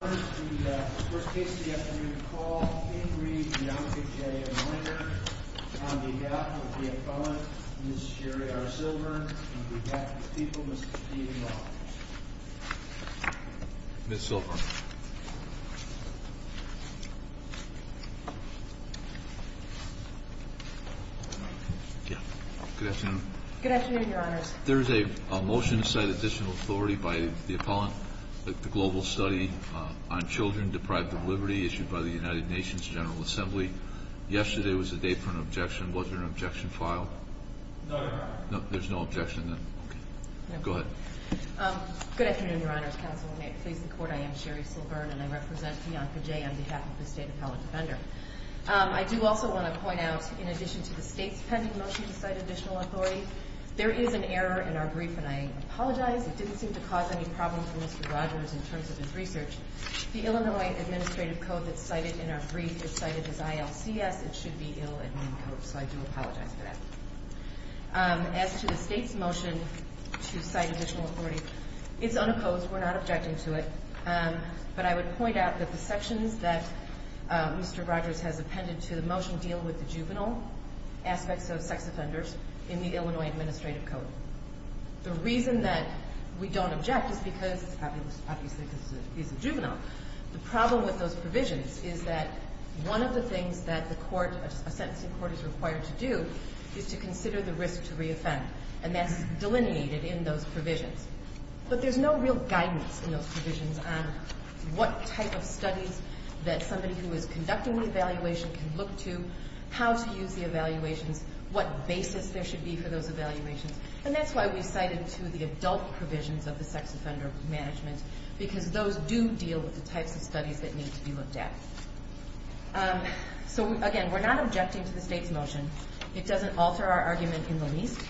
On behalf of the appellant, Ms. Sherry R. Silver, and on behalf of the people, Mr. Steve Walker. Ms. Silver. Good afternoon. Good afternoon, Your Honors. There is a motion to cite additional authority by the appellant, the global study on children deprived of liberty issued by the United Nations General Assembly. Yesterday was the date for an objection. Was there an objection filed? No, Your Honor. Good afternoon, Your Honors. Good afternoon, Your Honors. I am Sherry Silver, and I represent Vianca J. on behalf of the State Appellant Defender. I do also want to point out, in addition to the State's pending motion to cite additional authority, there is an error in our brief, and I apologize. It didn't seem to cause any problems for Mr. Rogers in terms of his research. The Illinois Administrative Code that's cited in our brief is cited as ILCS. It should be Ill Admin Code, so I do apologize for that. As to the State's motion to cite additional authority, it's unopposed. We're not objecting to it. But I would point out that the sections that Mr. Rogers has appended to the motion deal with the juvenile aspects of sex offenders in the Illinois Administrative Code. The reason that we don't object is because it's obviously because he's a juvenile. The problem with those provisions is that one of the things that a sentencing court is required to do is to consider the risk to re-offend, and that's delineated in those provisions. But there's no real guidance in those provisions on what type of studies that somebody who is conducting the evaluation can look to, how to use the evaluations, what basis there should be for those evaluations. And that's why we cited two of the adult provisions of the sex offender management, because those do deal with the types of studies that need to be looked at. So, again, we're not objecting to the State's motion. It doesn't alter our argument in the least,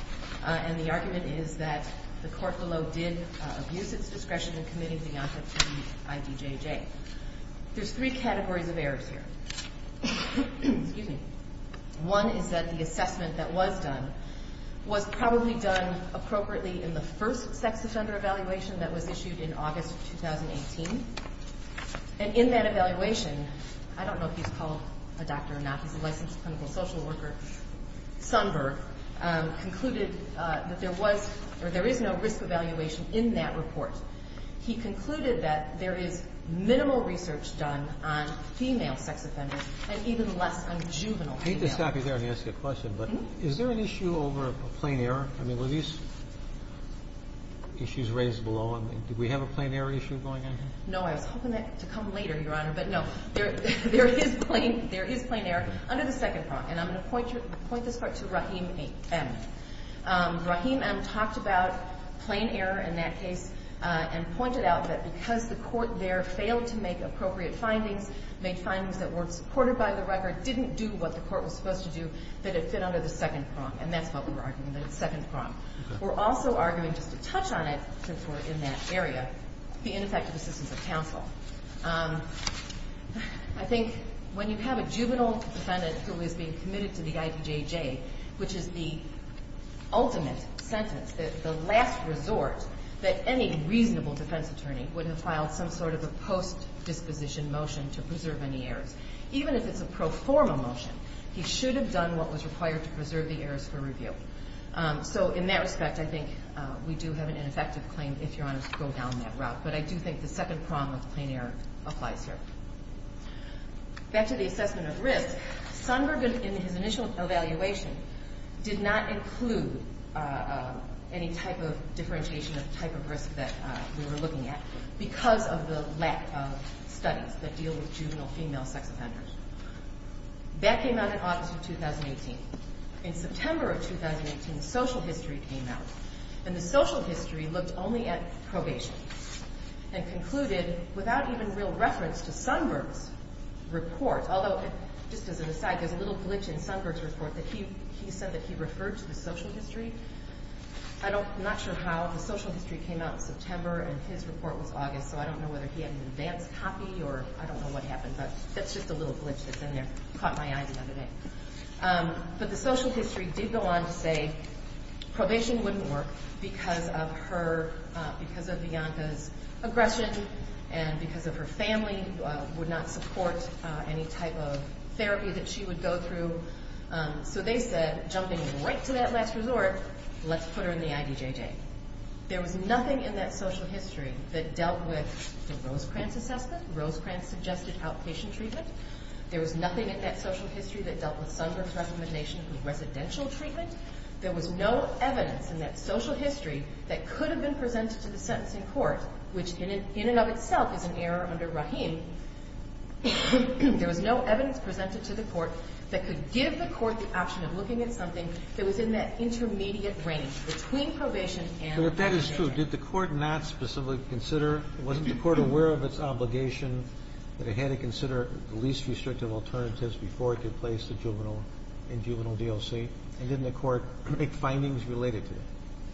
and the argument is that the court below did abuse its discretion in committing the offense to the IDJJ. There's three categories of errors here. One is that the assessment that was done was probably done appropriately in the first sex offender evaluation that was issued in August of 2018. And in that evaluation, I don't know if he's called a doctor or not. He's a licensed clinical social worker. Sundberg concluded that there was or there is no risk evaluation in that report. He concluded that there is a risk evaluation in that report. convicted of a sexual offense were less of a male than a female sex offender and even less a juvenile. I hate to stop you there and ask you a question, but is there an issue over a plain error? I mean, were these issues raised below? Did we have a plain error issue going on here? No, I was hoping that to come later, Your Honor, but no. There is plain error under the second prong. And I'm going to point this part to Rahim M. Rahim M. talked about plain error in that case and pointed out that because the court there failed to make appropriate findings, made findings that weren't supported by the record, didn't do what the court was supposed to do, that it fit under the second prong. And that's what we were arguing, the second prong. We're also arguing, just to touch on it since we're in that area, the ineffective assistance of counsel. I think when you have a juvenile defendant who is being committed to the IPJJ, which is the ultimate sentence, the last resort that any reasonable defense attorney would have filed some sort of a post-disposition motion to preserve any errors, even if it's a pro forma motion, he should have done what was required to preserve the errors for review. So in that respect, I think we do have an ineffective claim, if Your Honor, to go down that route. But I do think the second prong of plain error applies here. Back to the assessment of risk, Sonberg, in his initial evaluation, did not include any type of differentiation of the type of risk that we were looking at because of the lack of studies that deal with juvenile female sex offenders. That came out in August of 2018. In September of 2018, the social history came out. And the social history looked only at probation and concluded without even real reference to Sonberg's report. Although, just as an aside, there's a little glitch in Sonberg's report that he said that he referred to the social history. I'm not sure how. The social history came out in September, and his report was August. So I don't know whether he had an advanced copy, or I don't know what happened. But that's just a little glitch that's in there. Caught my eye the other day. But the social history did go on to say probation wouldn't work because of Bianca's aggression and because of her family would not support any type of therapy that she would go through. So they said, jumping right to that last resort, let's put her in the IDJJ. There was nothing in that social history that dealt with the Rosecrans assessment, Rosecrans suggested outpatient treatment. There was nothing in that social history that dealt with Sonberg's recommendation of residential treatment. There was no evidence in that social history that could have been presented to the sentencing court, which in and of itself is an error under Rahim. There was no evidence presented to the court that could give the court the option of looking at something that was in that intermediate range between probation and IDJJ. But if that is true, did the court not specifically consider, wasn't the court aware of its obligation that it had to consider the least restrictive alternatives before it could place the juvenile in juvenile DLC? And didn't the court make findings related to that?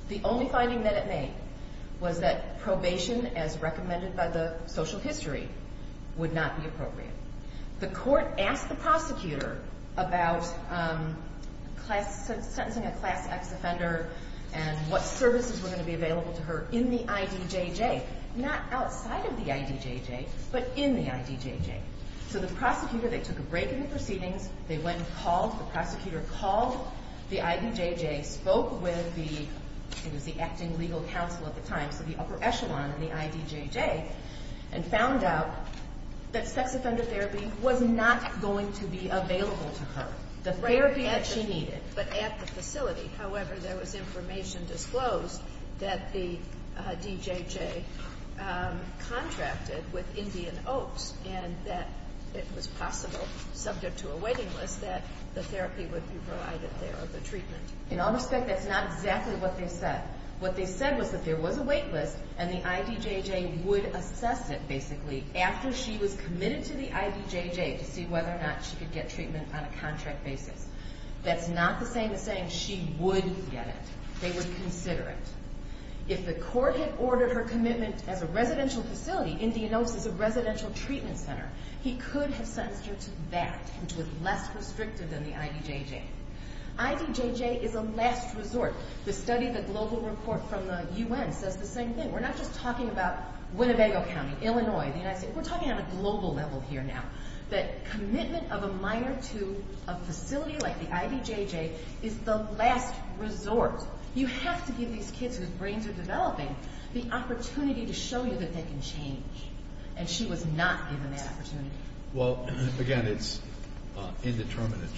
The only finding that it made was that probation, as recommended by the social history, would not be appropriate. The court asked the prosecutor about sentencing a Class X offender and what services were going to be available to her in the IDJJ, not outside of the IDJJ, but in the IDJJ. So the prosecutor, they took a break in the proceedings. They went and called, the prosecutor called the IDJJ, spoke with the, it was the acting legal counsel at the time, so the upper echelon in the IDJJ, and found out that sex offender therapy was not going to be available to her, the therapy that she needed. But at the facility, however, there was information disclosed that the DJJ contracted with Indian Oaks and that it was possible, subject to a waiting list, that the therapy would be provided there or the treatment. In all respect, that's not exactly what they said. What they said was that there was a wait list and the IDJJ would assess it, basically, after she was committed to the IDJJ to see whether or not she could get treatment on a contract basis. That's not the same as saying she would get it. They would consider it. If the court had ordered her commitment as a residential facility, Indian Oaks is a residential treatment center, he could have sentenced her to that, which was less restrictive than the IDJJ. IDJJ is a last resort. The study, the global report from the UN says the same thing. We're not just talking about Winnebago County, Illinois, the United States. We're talking on a global level here now. That commitment of a minor to a facility like the IDJJ is the last resort. You have to give these kids whose brains are developing the opportunity to show you that they can change. And she was not given that opportunity. Well, again, it's indeterminate.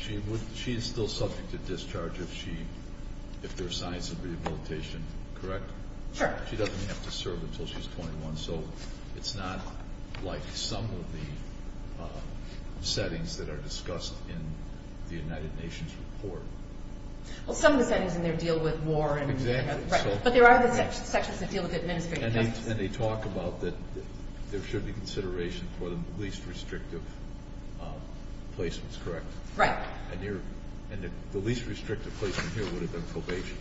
She is still subject to discharge if there's signs of rehabilitation, correct? Sure. She doesn't have to serve until she's 21. So it's not like some of the settings that are discussed in the United Nations report. Well, some of the settings in there deal with war. Exactly. But there are sections that deal with administrative justice. And they talk about that there should be consideration for the least restrictive placements, correct? Right. And the least restrictive placement here would have been probation.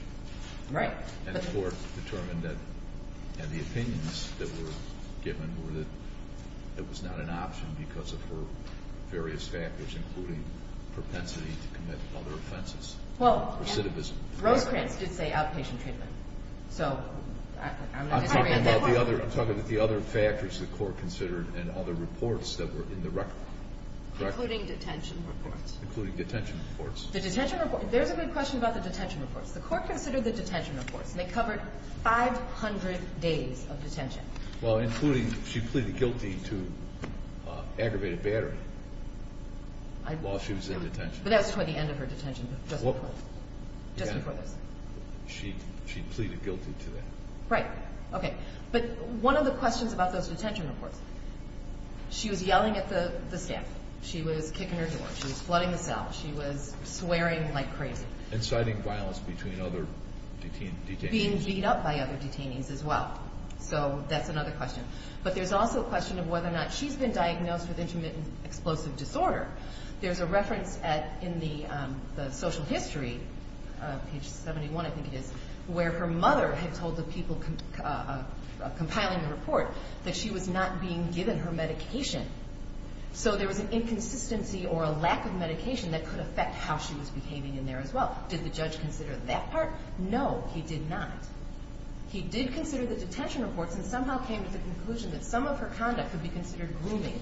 Right. And the court determined that the opinions that were given were that it was not an option because of her various factors, including propensity to commit other offenses, recidivism. Well, Rosecrans did say outpatient treatment. So I'm not disagreeing. I'm talking about the other factors the court considered and other reports that were in the record, correct? Including detention reports. Including detention reports. The detention reports. There's a good question about the detention reports. The court considered the detention reports, and they covered 500 days of detention. Well, including she pleaded guilty to aggravated battery while she was in detention. But that's toward the end of her detention. Just before this. She pleaded guilty to that. Right. Okay. But one of the questions about those detention reports, she was yelling at the staff. She was kicking her door. She was flooding the cell. She was swearing like crazy. Inciting violence between other detainees. Being beat up by other detainees as well. So that's another question. But there's also a question of whether or not she's been diagnosed with intermittent explosive disorder. There's a reference in the social history, page 71 I think it is, where her mother had told the people compiling the report that she was not being given her medication. So there was an inconsistency or a lack of medication that could affect how she was behaving in there as well. Did the judge consider that part? No, he did not. He did consider the detention reports and somehow came to the conclusion that some of her conduct could be considered grooming.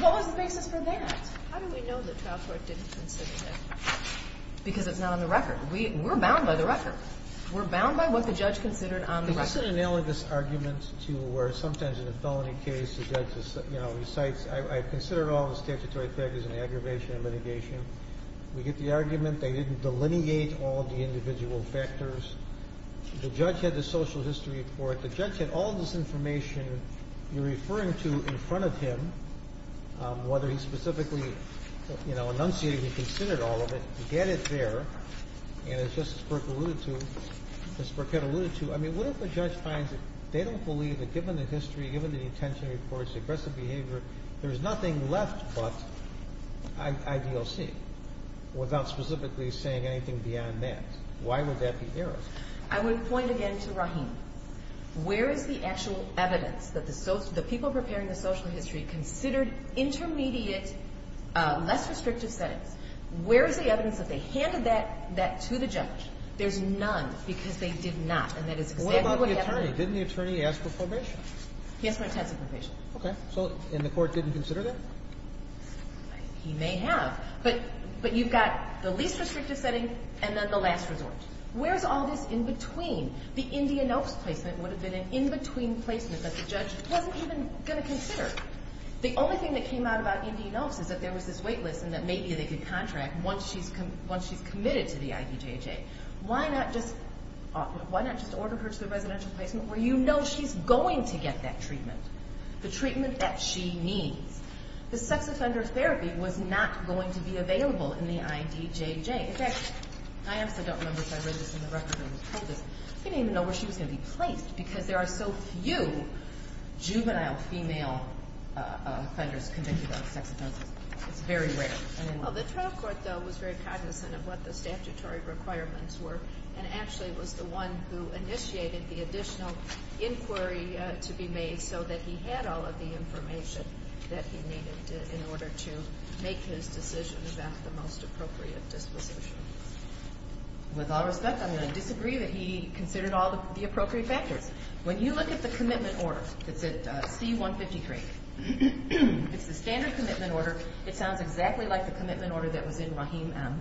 What was the basis for that? How do we know the trial court didn't consider that? Because it's not on the record. We're bound by the record. We're bound by what the judge considered on the record. It's an analogous argument to where sometimes in a felony case the judge recites, I've considered all the statutory factors in the aggravation and litigation. We get the argument they didn't delineate all the individual factors. The judge had the social history report. The judge had all this information you're referring to in front of him, whether he specifically enunciated or considered all of it, get it there. And as Justice Burke alluded to, as Burke had alluded to, I mean, what if the judge finds that they don't believe that given the history, given the detention reports, the aggressive behavior, there's nothing left but IDOC without specifically saying anything beyond that? Why would that be erroneous? I would point again to Rahim. Where is the actual evidence that the people preparing the social history considered intermediate, less restrictive settings? Where is the evidence that they handed that to the judge? There's none because they did not. And that is exactly what happened. What about the attorney? Didn't the attorney ask for probation? He asked for intensive probation. Okay. And the court didn't consider that? He may have. But you've got the least restrictive setting and then the last resort. Where is all this in between? The Indian Oaks placement would have been an in-between placement that the judge wasn't even going to consider. The only thing that came out about Indian Oaks is that there was this wait list and that maybe they could contract once she's committed to the IDJJ. Why not just order her to the residential placement where you know she's going to get that treatment, the treatment that she needs? The sex offender therapy was not going to be available in the IDJJ. In fact, I honestly don't remember if I read this in the record or was told this. I didn't even know where she was going to be placed because there are so few juvenile female offenders convicted of sex offenses. It's very rare. The trial court, though, was very cognizant of what the statutory requirements were and actually was the one who initiated the additional inquiry to be made so that he had all of the information that he needed in order to make his decision about the most appropriate disposition. With all respect, I'm going to disagree that he considered all of the appropriate factors. When you look at the commitment order that's at C-153, it's the standard commitment order. It sounds exactly like the commitment order that was in Rahim M.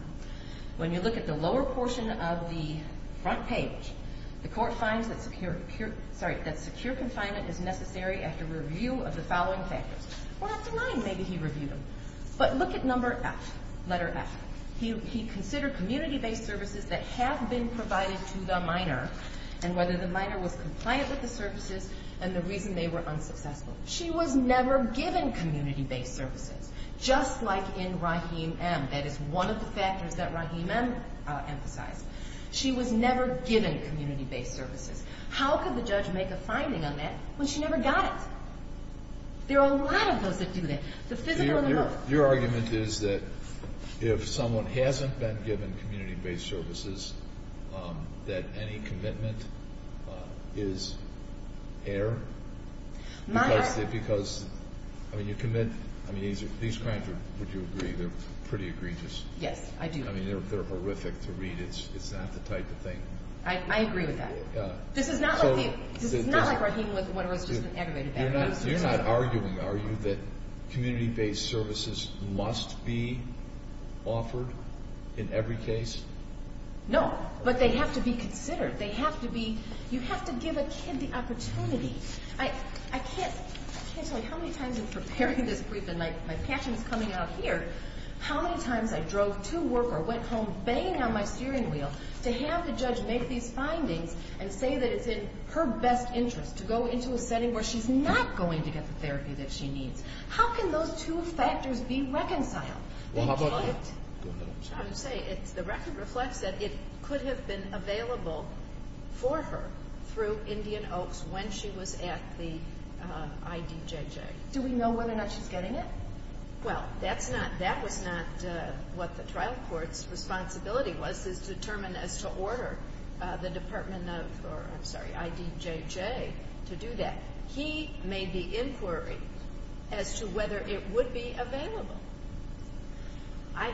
When you look at the lower portion of the front page, the court finds that secure confinement is necessary after review of the following factors. We're not denying maybe he reviewed them, but look at number F, letter F. He considered community-based services that have been provided to the minor and whether the minor was compliant with the services and the reason they were unsuccessful. She was never given community-based services, just like in Rahim M. That is one of the factors that Rahim M. emphasized. She was never given community-based services. How could the judge make a finding on that when she never got it? There are a lot of those that do that. Your argument is that if someone hasn't been given community-based services, that any commitment is air? I mean, these crimes, would you agree, they're pretty egregious? Yes, I do. I mean, they're horrific to read. It's not the type of thing. I agree with that. This is not like Rahim with what was just an aggravated aggravated abuse. You're not arguing, are you, that community-based services must be offered in every case? No, but they have to be considered. They have to be, you have to give a kid the opportunity. I can't tell you how many times in preparing this brief, and my passion is coming out here, how many times I drove to work or went home banging on my steering wheel to have the judge make these findings and say that it's in her best interest to go into a setting where she's not going to get the therapy that she needs. How can those two factors be reconciled? Well, how about the record? The record reflects that it could have been available for her through Indian Oaks when she was at the IDJJ. Do we know whether or not she's getting it? Well, that's not, that was not what the trial court's responsibility was, is to determine as to order the Department of, or I'm sorry, IDJJ to do that. He made the inquiry as to whether it would be available. I'm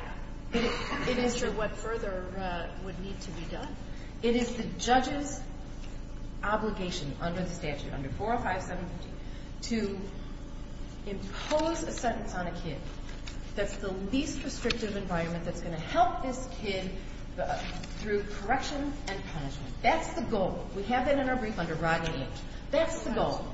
not sure what further would need to be done. It is the judge's obligation under the statute, under 405, 715, to impose a sentence on a kid that's the least restrictive environment that's going to help this kid through correction and punishment. That's the goal. We have that in our brief under Rodney H. That's the goal.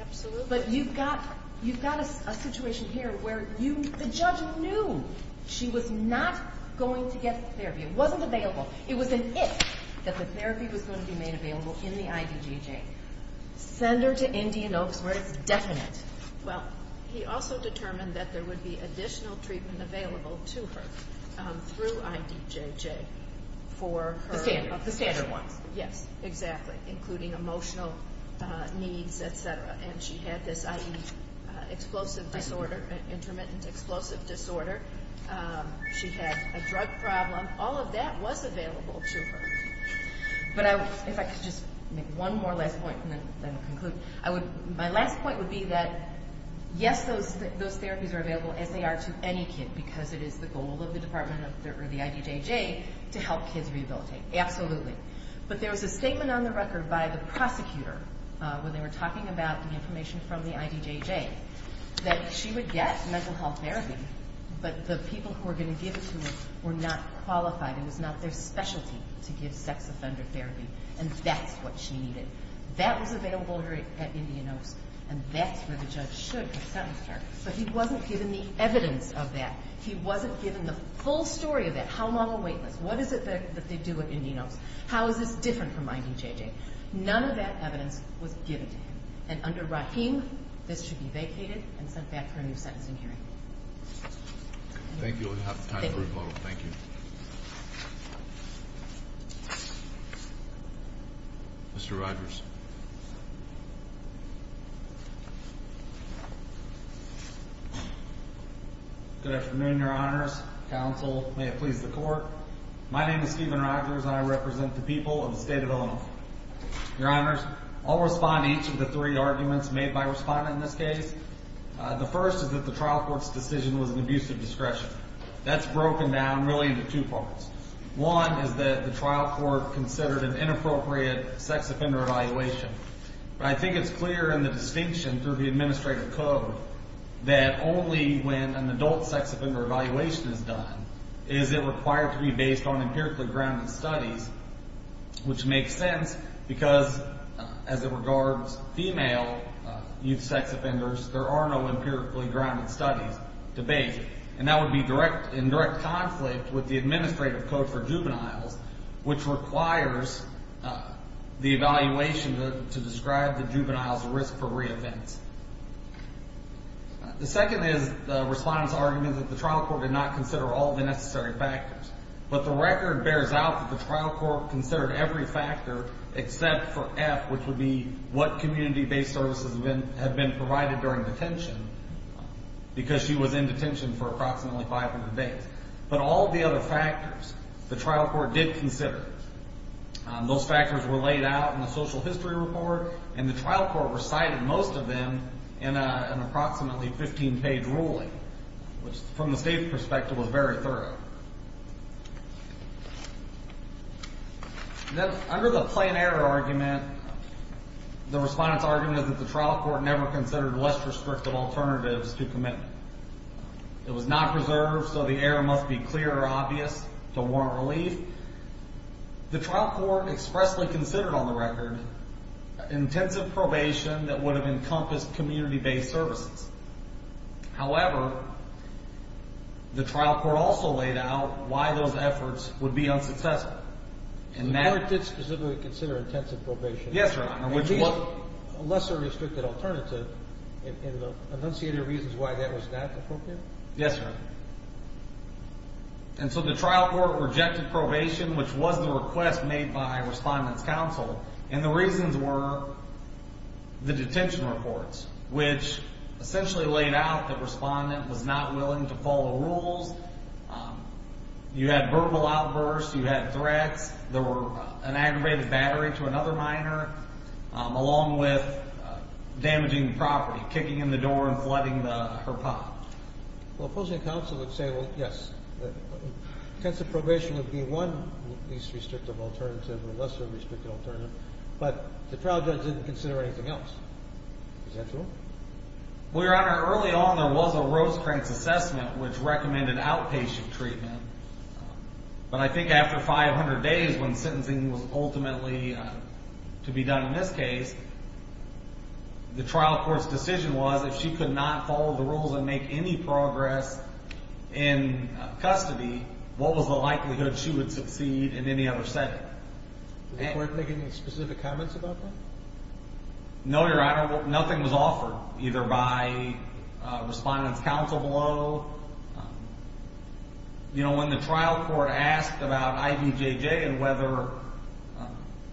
Absolutely. But you've got, you've got a situation here where you, the judge knew she was not going to get the therapy. It wasn't available. It was an if that the therapy was going to be made available in the IDJJ. Send her to Indian Oaks where it's definite. Well, he also determined that there would be additional treatment available to her through IDJJ for her. The standard, the standard ones. Yes, exactly, including emotional needs, et cetera. And she had this IED, explosive disorder, intermittent explosive disorder. She had a drug problem. All of that was available to her. But if I could just make one more last point and then conclude. My last point would be that, yes, those therapies are available as they are to any kid because it is the goal of the department or the IDJJ to help kids rehabilitate. Absolutely. But there was a statement on the record by the prosecutor when they were talking about the information from the IDJJ that she would get mental health therapy, but the people who were going to give it to her were not qualified. It was not their specialty to give sex offender therapy, and that's what she needed. That was available to her at Indian Oaks, and that's where the judge should have sent her. But he wasn't given the evidence of that. He wasn't given the full story of that. How long a wait list? What is it that they do at Indian Oaks? How is this different from IDJJ? None of that evidence was given to him. And under Rahim, this should be vacated and sent back for a new sentencing hearing. Thank you. We have time for a vote. Thank you. Mr. Rogers. Good afternoon, Your Honors. Counsel, may it please the Court. My name is Stephen Rogers, and I represent the people of the state of Illinois. Your Honors, I'll respond to each of the three arguments made by a respondent in this case. The first is that the trial court's decision was an abuse of discretion. That's broken down really into two parts. One is that the trial court considered an inappropriate sex offender evaluation. I think it's clear in the distinction through the administrative code that only when an adult sex offender evaluation is done is it required to be based on empirically grounded studies, which makes sense because, as it regards female youth sex offenders, there are no empirically grounded studies to base it. And that would be in direct conflict with the administrative code for juveniles, which requires the evaluation to describe the juvenile's risk for reoffense. The second is the respondent's argument that the trial court did not consider all the necessary factors. But the record bears out that the trial court considered every factor except for F, which would be what community-based services have been provided during detention, because she was in detention for approximately 500 days. But all the other factors the trial court did consider, those factors were laid out in the social history report, and the trial court recited most of them in an approximately 15-page ruling, which, from the state's perspective, was very thorough. Then under the plain error argument, the respondent's argument is that the trial court never considered less restrictive alternatives to commitment. It was not preserved, so the error must be clear or obvious to warrant relief. The trial court expressly considered, on the record, intensive probation that would have encompassed community-based services. However, the trial court also laid out why those efforts would be unsuccessful. The court did specifically consider intensive probation. Yes, Your Honor. A lesser restrictive alternative, and the enunciated reasons why that was not appropriate? Yes, Your Honor. And so the trial court rejected probation, which was the request made by respondent's counsel, and the reasons were the detention reports, which essentially laid out the respondent was not willing to follow rules. You had verbal outbursts. You had threats. There were an aggravated battery to another minor, along with damaging the property, kicking in the door and flooding her pot. Well, opposing counsel would say, well, yes, intensive probation would be one least restrictive alternative or lesser restrictive alternative, but the trial judge didn't consider anything else. Is that true? Well, Your Honor, early on there was a Rosecrans assessment, which recommended outpatient treatment, but I think after 500 days when sentencing was ultimately to be done in this case, the trial court's decision was if she could not follow the rules and make any progress in custody, what was the likelihood she would succeed in any other setting? Did the court make any specific comments about that? No, Your Honor. Nothing was offered, either by respondent's counsel below. You know, when the trial court asked about IVJJ and whether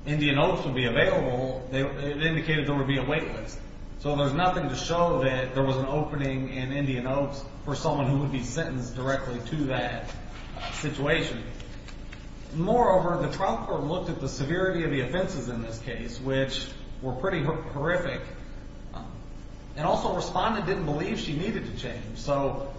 Indian Oaks would be available, it indicated there would be a wait list. So there's nothing to show that there was an opening in Indian Oaks for someone who would be sentenced directly to that situation. Moreover, the trial court looked at the severity of the offenses in this case, which were pretty horrific, and also respondent didn't believe she needed to change. So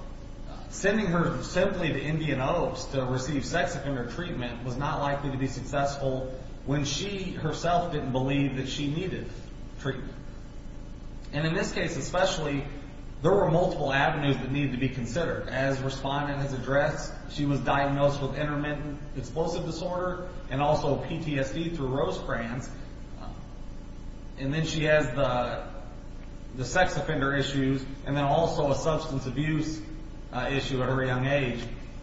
sending her simply to Indian Oaks to receive sex offender treatment was not likely to be successful when she herself didn't believe that she needed treatment. And in this case especially, there were multiple avenues that needed to be considered. As respondent has addressed, she was diagnosed with intermittent explosive disorder and also PTSD through Rosecrans, and then she has the sex offender issues and then also a substance abuse issue at her young age.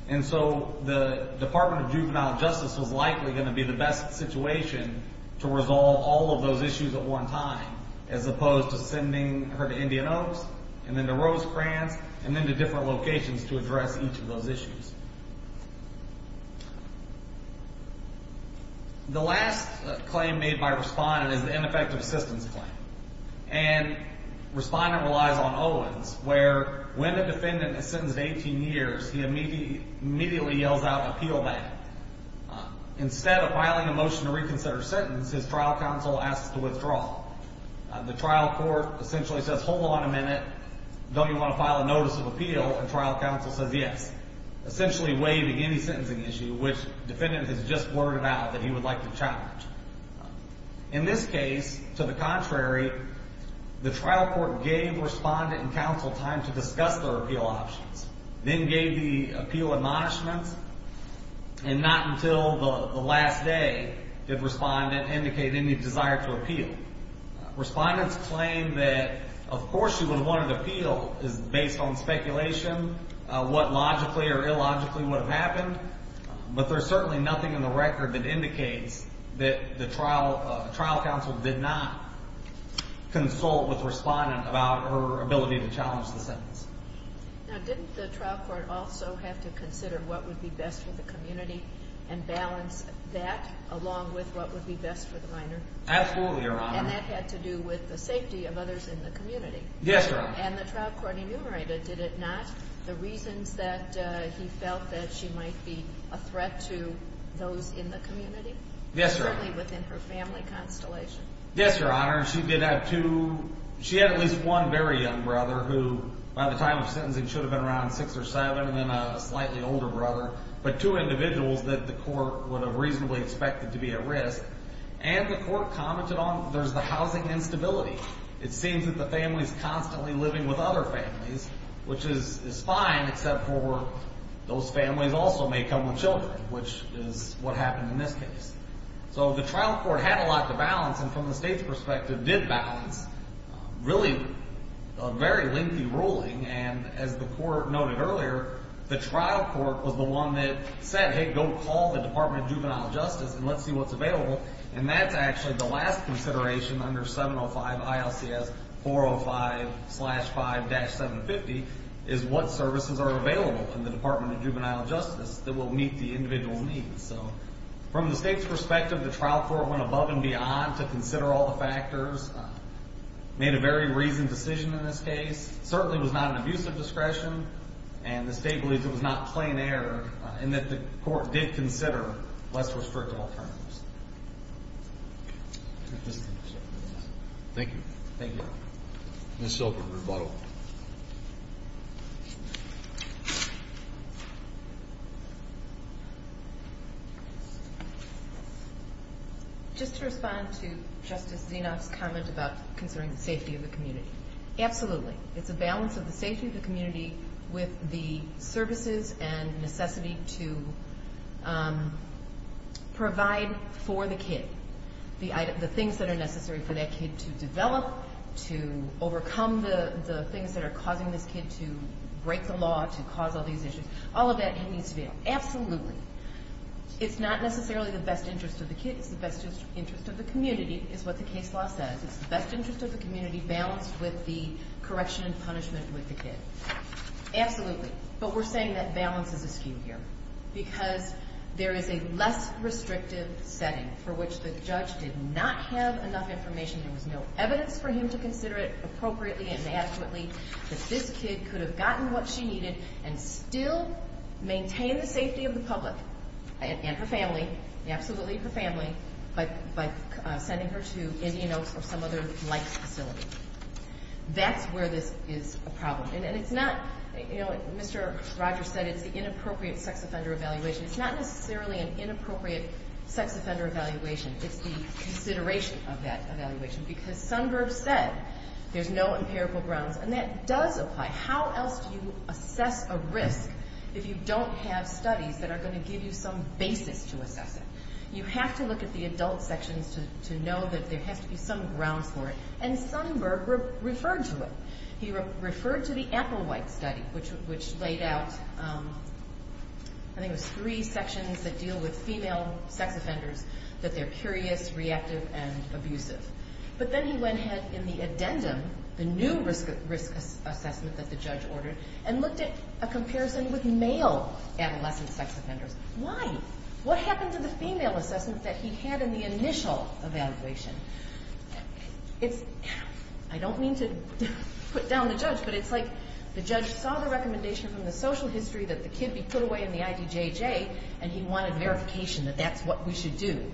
And so the Department of Juvenile Justice was likely going to be the best situation to resolve all of those issues at one time, as opposed to sending her to Indian Oaks and then to Rosecrans and then to different locations to address each of those issues. The last claim made by respondent is the ineffective assistance claim. And respondent relies on Owens, where when a defendant is sentenced to 18 years, he immediately yells out, appeal that. Instead of filing a motion to reconsider a sentence, his trial counsel asks to withdraw. The trial court essentially says, hold on a minute, don't you want to file a notice of appeal? And trial counsel says yes, essentially waiving any sentencing issue which defendant has just worded out that he would like to challenge. In this case, to the contrary, the trial court gave respondent and counsel time to discuss their appeal options, then gave the appeal admonishments, and not until the last day did respondent indicate any desire to appeal. Respondents claim that of course she would have wanted to appeal based on speculation, what logically or illogically would have happened, but there's certainly nothing in the record that indicates that the trial counsel did not consult with respondent about her ability to challenge the sentence. Now didn't the trial court also have to consider what would be best for the community and balance that along with what would be best for the minor? Absolutely, Your Honor. And that had to do with the safety of others in the community. Yes, Your Honor. And the trial court enumerated, did it not, the reasons that he felt that she might be a threat to those in the community? Yes, Your Honor. Certainly within her family constellation. Yes, Your Honor. She did have two, she had at least one very young brother who by the time of sentencing should have been around six or seven and then a slightly older brother, but two individuals that the court would have reasonably expected to be at risk. And the court commented on there's the housing instability. It seems that the family is constantly living with other families, which is fine except for those families also may come with children, which is what happened in this case. So the trial court had a lot to balance and from the state's perspective did balance really a very lengthy ruling. And as the court noted earlier, the trial court was the one that said, hey, go call the Department of Juvenile Justice and let's see what's available. And that's actually the last consideration under 705 ILCS 405-5-750 is what services are available in the Department of Juvenile Justice that will meet the individual's needs. So from the state's perspective, the trial court went above and beyond to consider all the factors, made a very reasoned decision in this case, certainly was not an abuse of discretion, and the state believes it was not plain error and that the court did consider less restrictive alternatives. Thank you. Thank you. Ms. Silver, rebuttal. Just to respond to Justice Zinoff's comment about considering the safety of the community. Absolutely. It's a balance of the safety of the community with the services and necessity to provide for the kid, the things that are necessary for that kid to develop, to overcome the things that are causing this kid to break the law, to cause all these issues. All of that needs to be there. Absolutely. It's not necessarily the best interest of the kid. It's the best interest of the community is what the case law says. It's the best interest of the community to be balanced with the correction and punishment with the kid. Absolutely. But we're saying that balance is askew here because there is a less restrictive setting for which the judge did not have enough information. There was no evidence for him to consider it appropriately and adequately that this kid could have gotten what she needed and still maintain the safety of the public and her family, absolutely her family, by sending her to Indian Oaks or some other like facility. That's where this is a problem. And it's not, you know, as Mr. Rogers said, it's the inappropriate sex offender evaluation. It's not necessarily an inappropriate sex offender evaluation. It's the consideration of that evaluation because some groups said there's no empirical grounds, and that does apply. How else do you assess a risk if you don't have studies that are going to give you some basis to assess it? You have to look at the adult sections to know that there has to be some grounds for it, and Sonnenberg referred to it. He referred to the Applewhite study, which laid out, I think it was three sections that deal with female sex offenders, that they're curious, reactive, and abusive. But then he went ahead in the addendum, the new risk assessment that the judge ordered, and looked at a comparison with male adolescent sex offenders. Why? What happened to the female assessment that he had in the initial evaluation? I don't mean to put down the judge, but it's like the judge saw the recommendation from the social history that the kid be put away in the IDJJ, and he wanted verification that that's what we should do.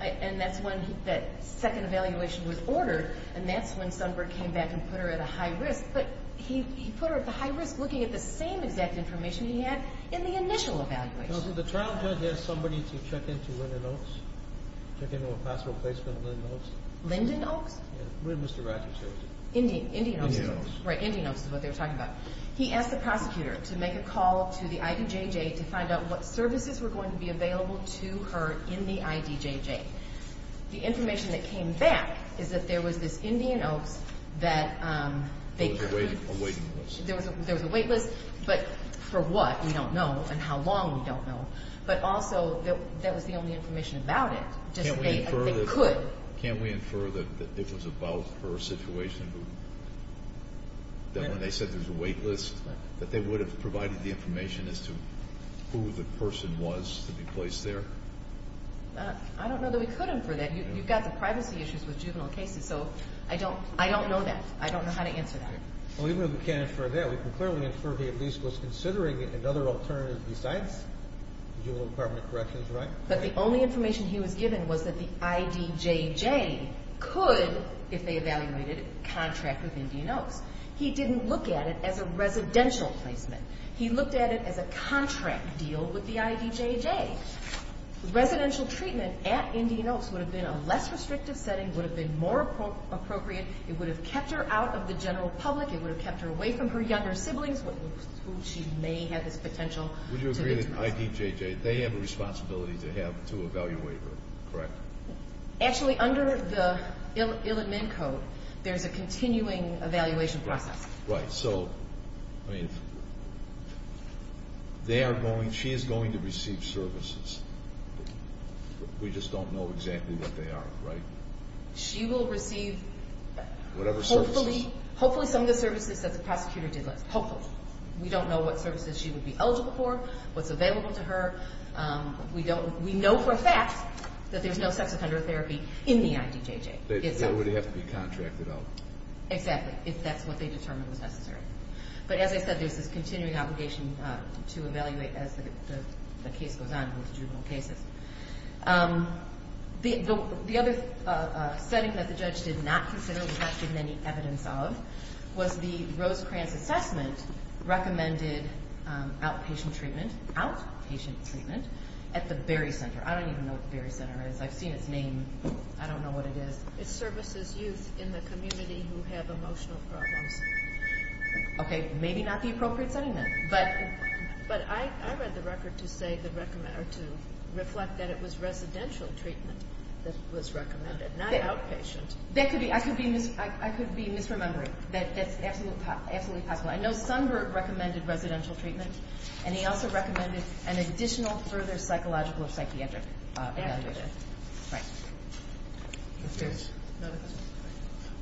And that's when that second evaluation was ordered, and that's when Sonnenberg came back and put her at a high risk. But he put her at the high risk looking at the same exact information he had in the initial evaluation. Now, did the trial judge ask somebody to check into Lyndon Oaks? Check into a possible placement at Lyndon Oaks? Lyndon Oaks? Yeah, where did Mr. Ratner take it? Indian Oaks. Right, Indian Oaks is what they were talking about. He asked the prosecutor to make a call to the IDJJ to find out what services were going to be available to her in the IDJJ. The information that came back is that there was this Indian Oaks that... There was a wait list. There was a wait list, but for what, we don't know, and how long, we don't know. But also, that was the only information about it. Can we infer that this was about her situation? That when they said there was a wait list, that they would have provided the information as to who the person was to be placed there? I don't know that we could infer that. You've got the privacy issues with juvenile cases, so I don't know that. I don't know how to answer that. Even if we can't infer that, we can clearly infer that he was considering another alternative besides the juvenile department of corrections, right? But the only information he was given was that the IDJJ could, if they evaluated it, contract with Indian Oaks. He didn't look at it as a residential placement. He looked at it as a contract deal with the IDJJ. Residential treatment at Indian Oaks would have been a less restrictive setting, would have been more appropriate. It would have kept her out of the general public. It would have kept her away from her younger siblings, who she may have this potential to meet with. Would you agree that the IDJJ, they have a responsibility to evaluate her, correct? Actually, under the ill-admin code, there's a continuing evaluation process. Right. So, I mean, she is going to receive services. We just don't know exactly what they are, right? She will receive hopefully some of the services that the prosecutor did list. Hopefully. We don't know what services she would be eligible for, what's available to her. We know for a fact that there's no sex offender therapy in the IDJJ. It would have to be contracted out. Exactly, if that's what they determined was necessary. But as I said, there's this continuing obligation to evaluate as the case goes on with the juvenile cases. The other setting that the judge did not consider, did not give any evidence of, was the Rosecrans assessment recommended outpatient treatment, outpatient treatment, at the Berry Center. I don't even know what the Berry Center is. I've seen its name. I don't know what it is. It services youth in the community who have emotional problems. Okay, maybe not the appropriate setting then. But I read the record to say, to reflect that it was residential treatment that was recommended, not outpatient. I could be misremembering. That's absolutely possible. I know Sundberg recommended residential treatment, and he also recommended an additional further psychological or psychiatric evaluation. Right.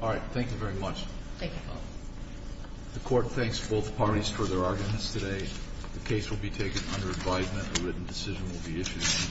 All right, thank you very much. Thank you. The court thanks both parties for their arguments today. The case will be taken under advisement. A written decision will be issued.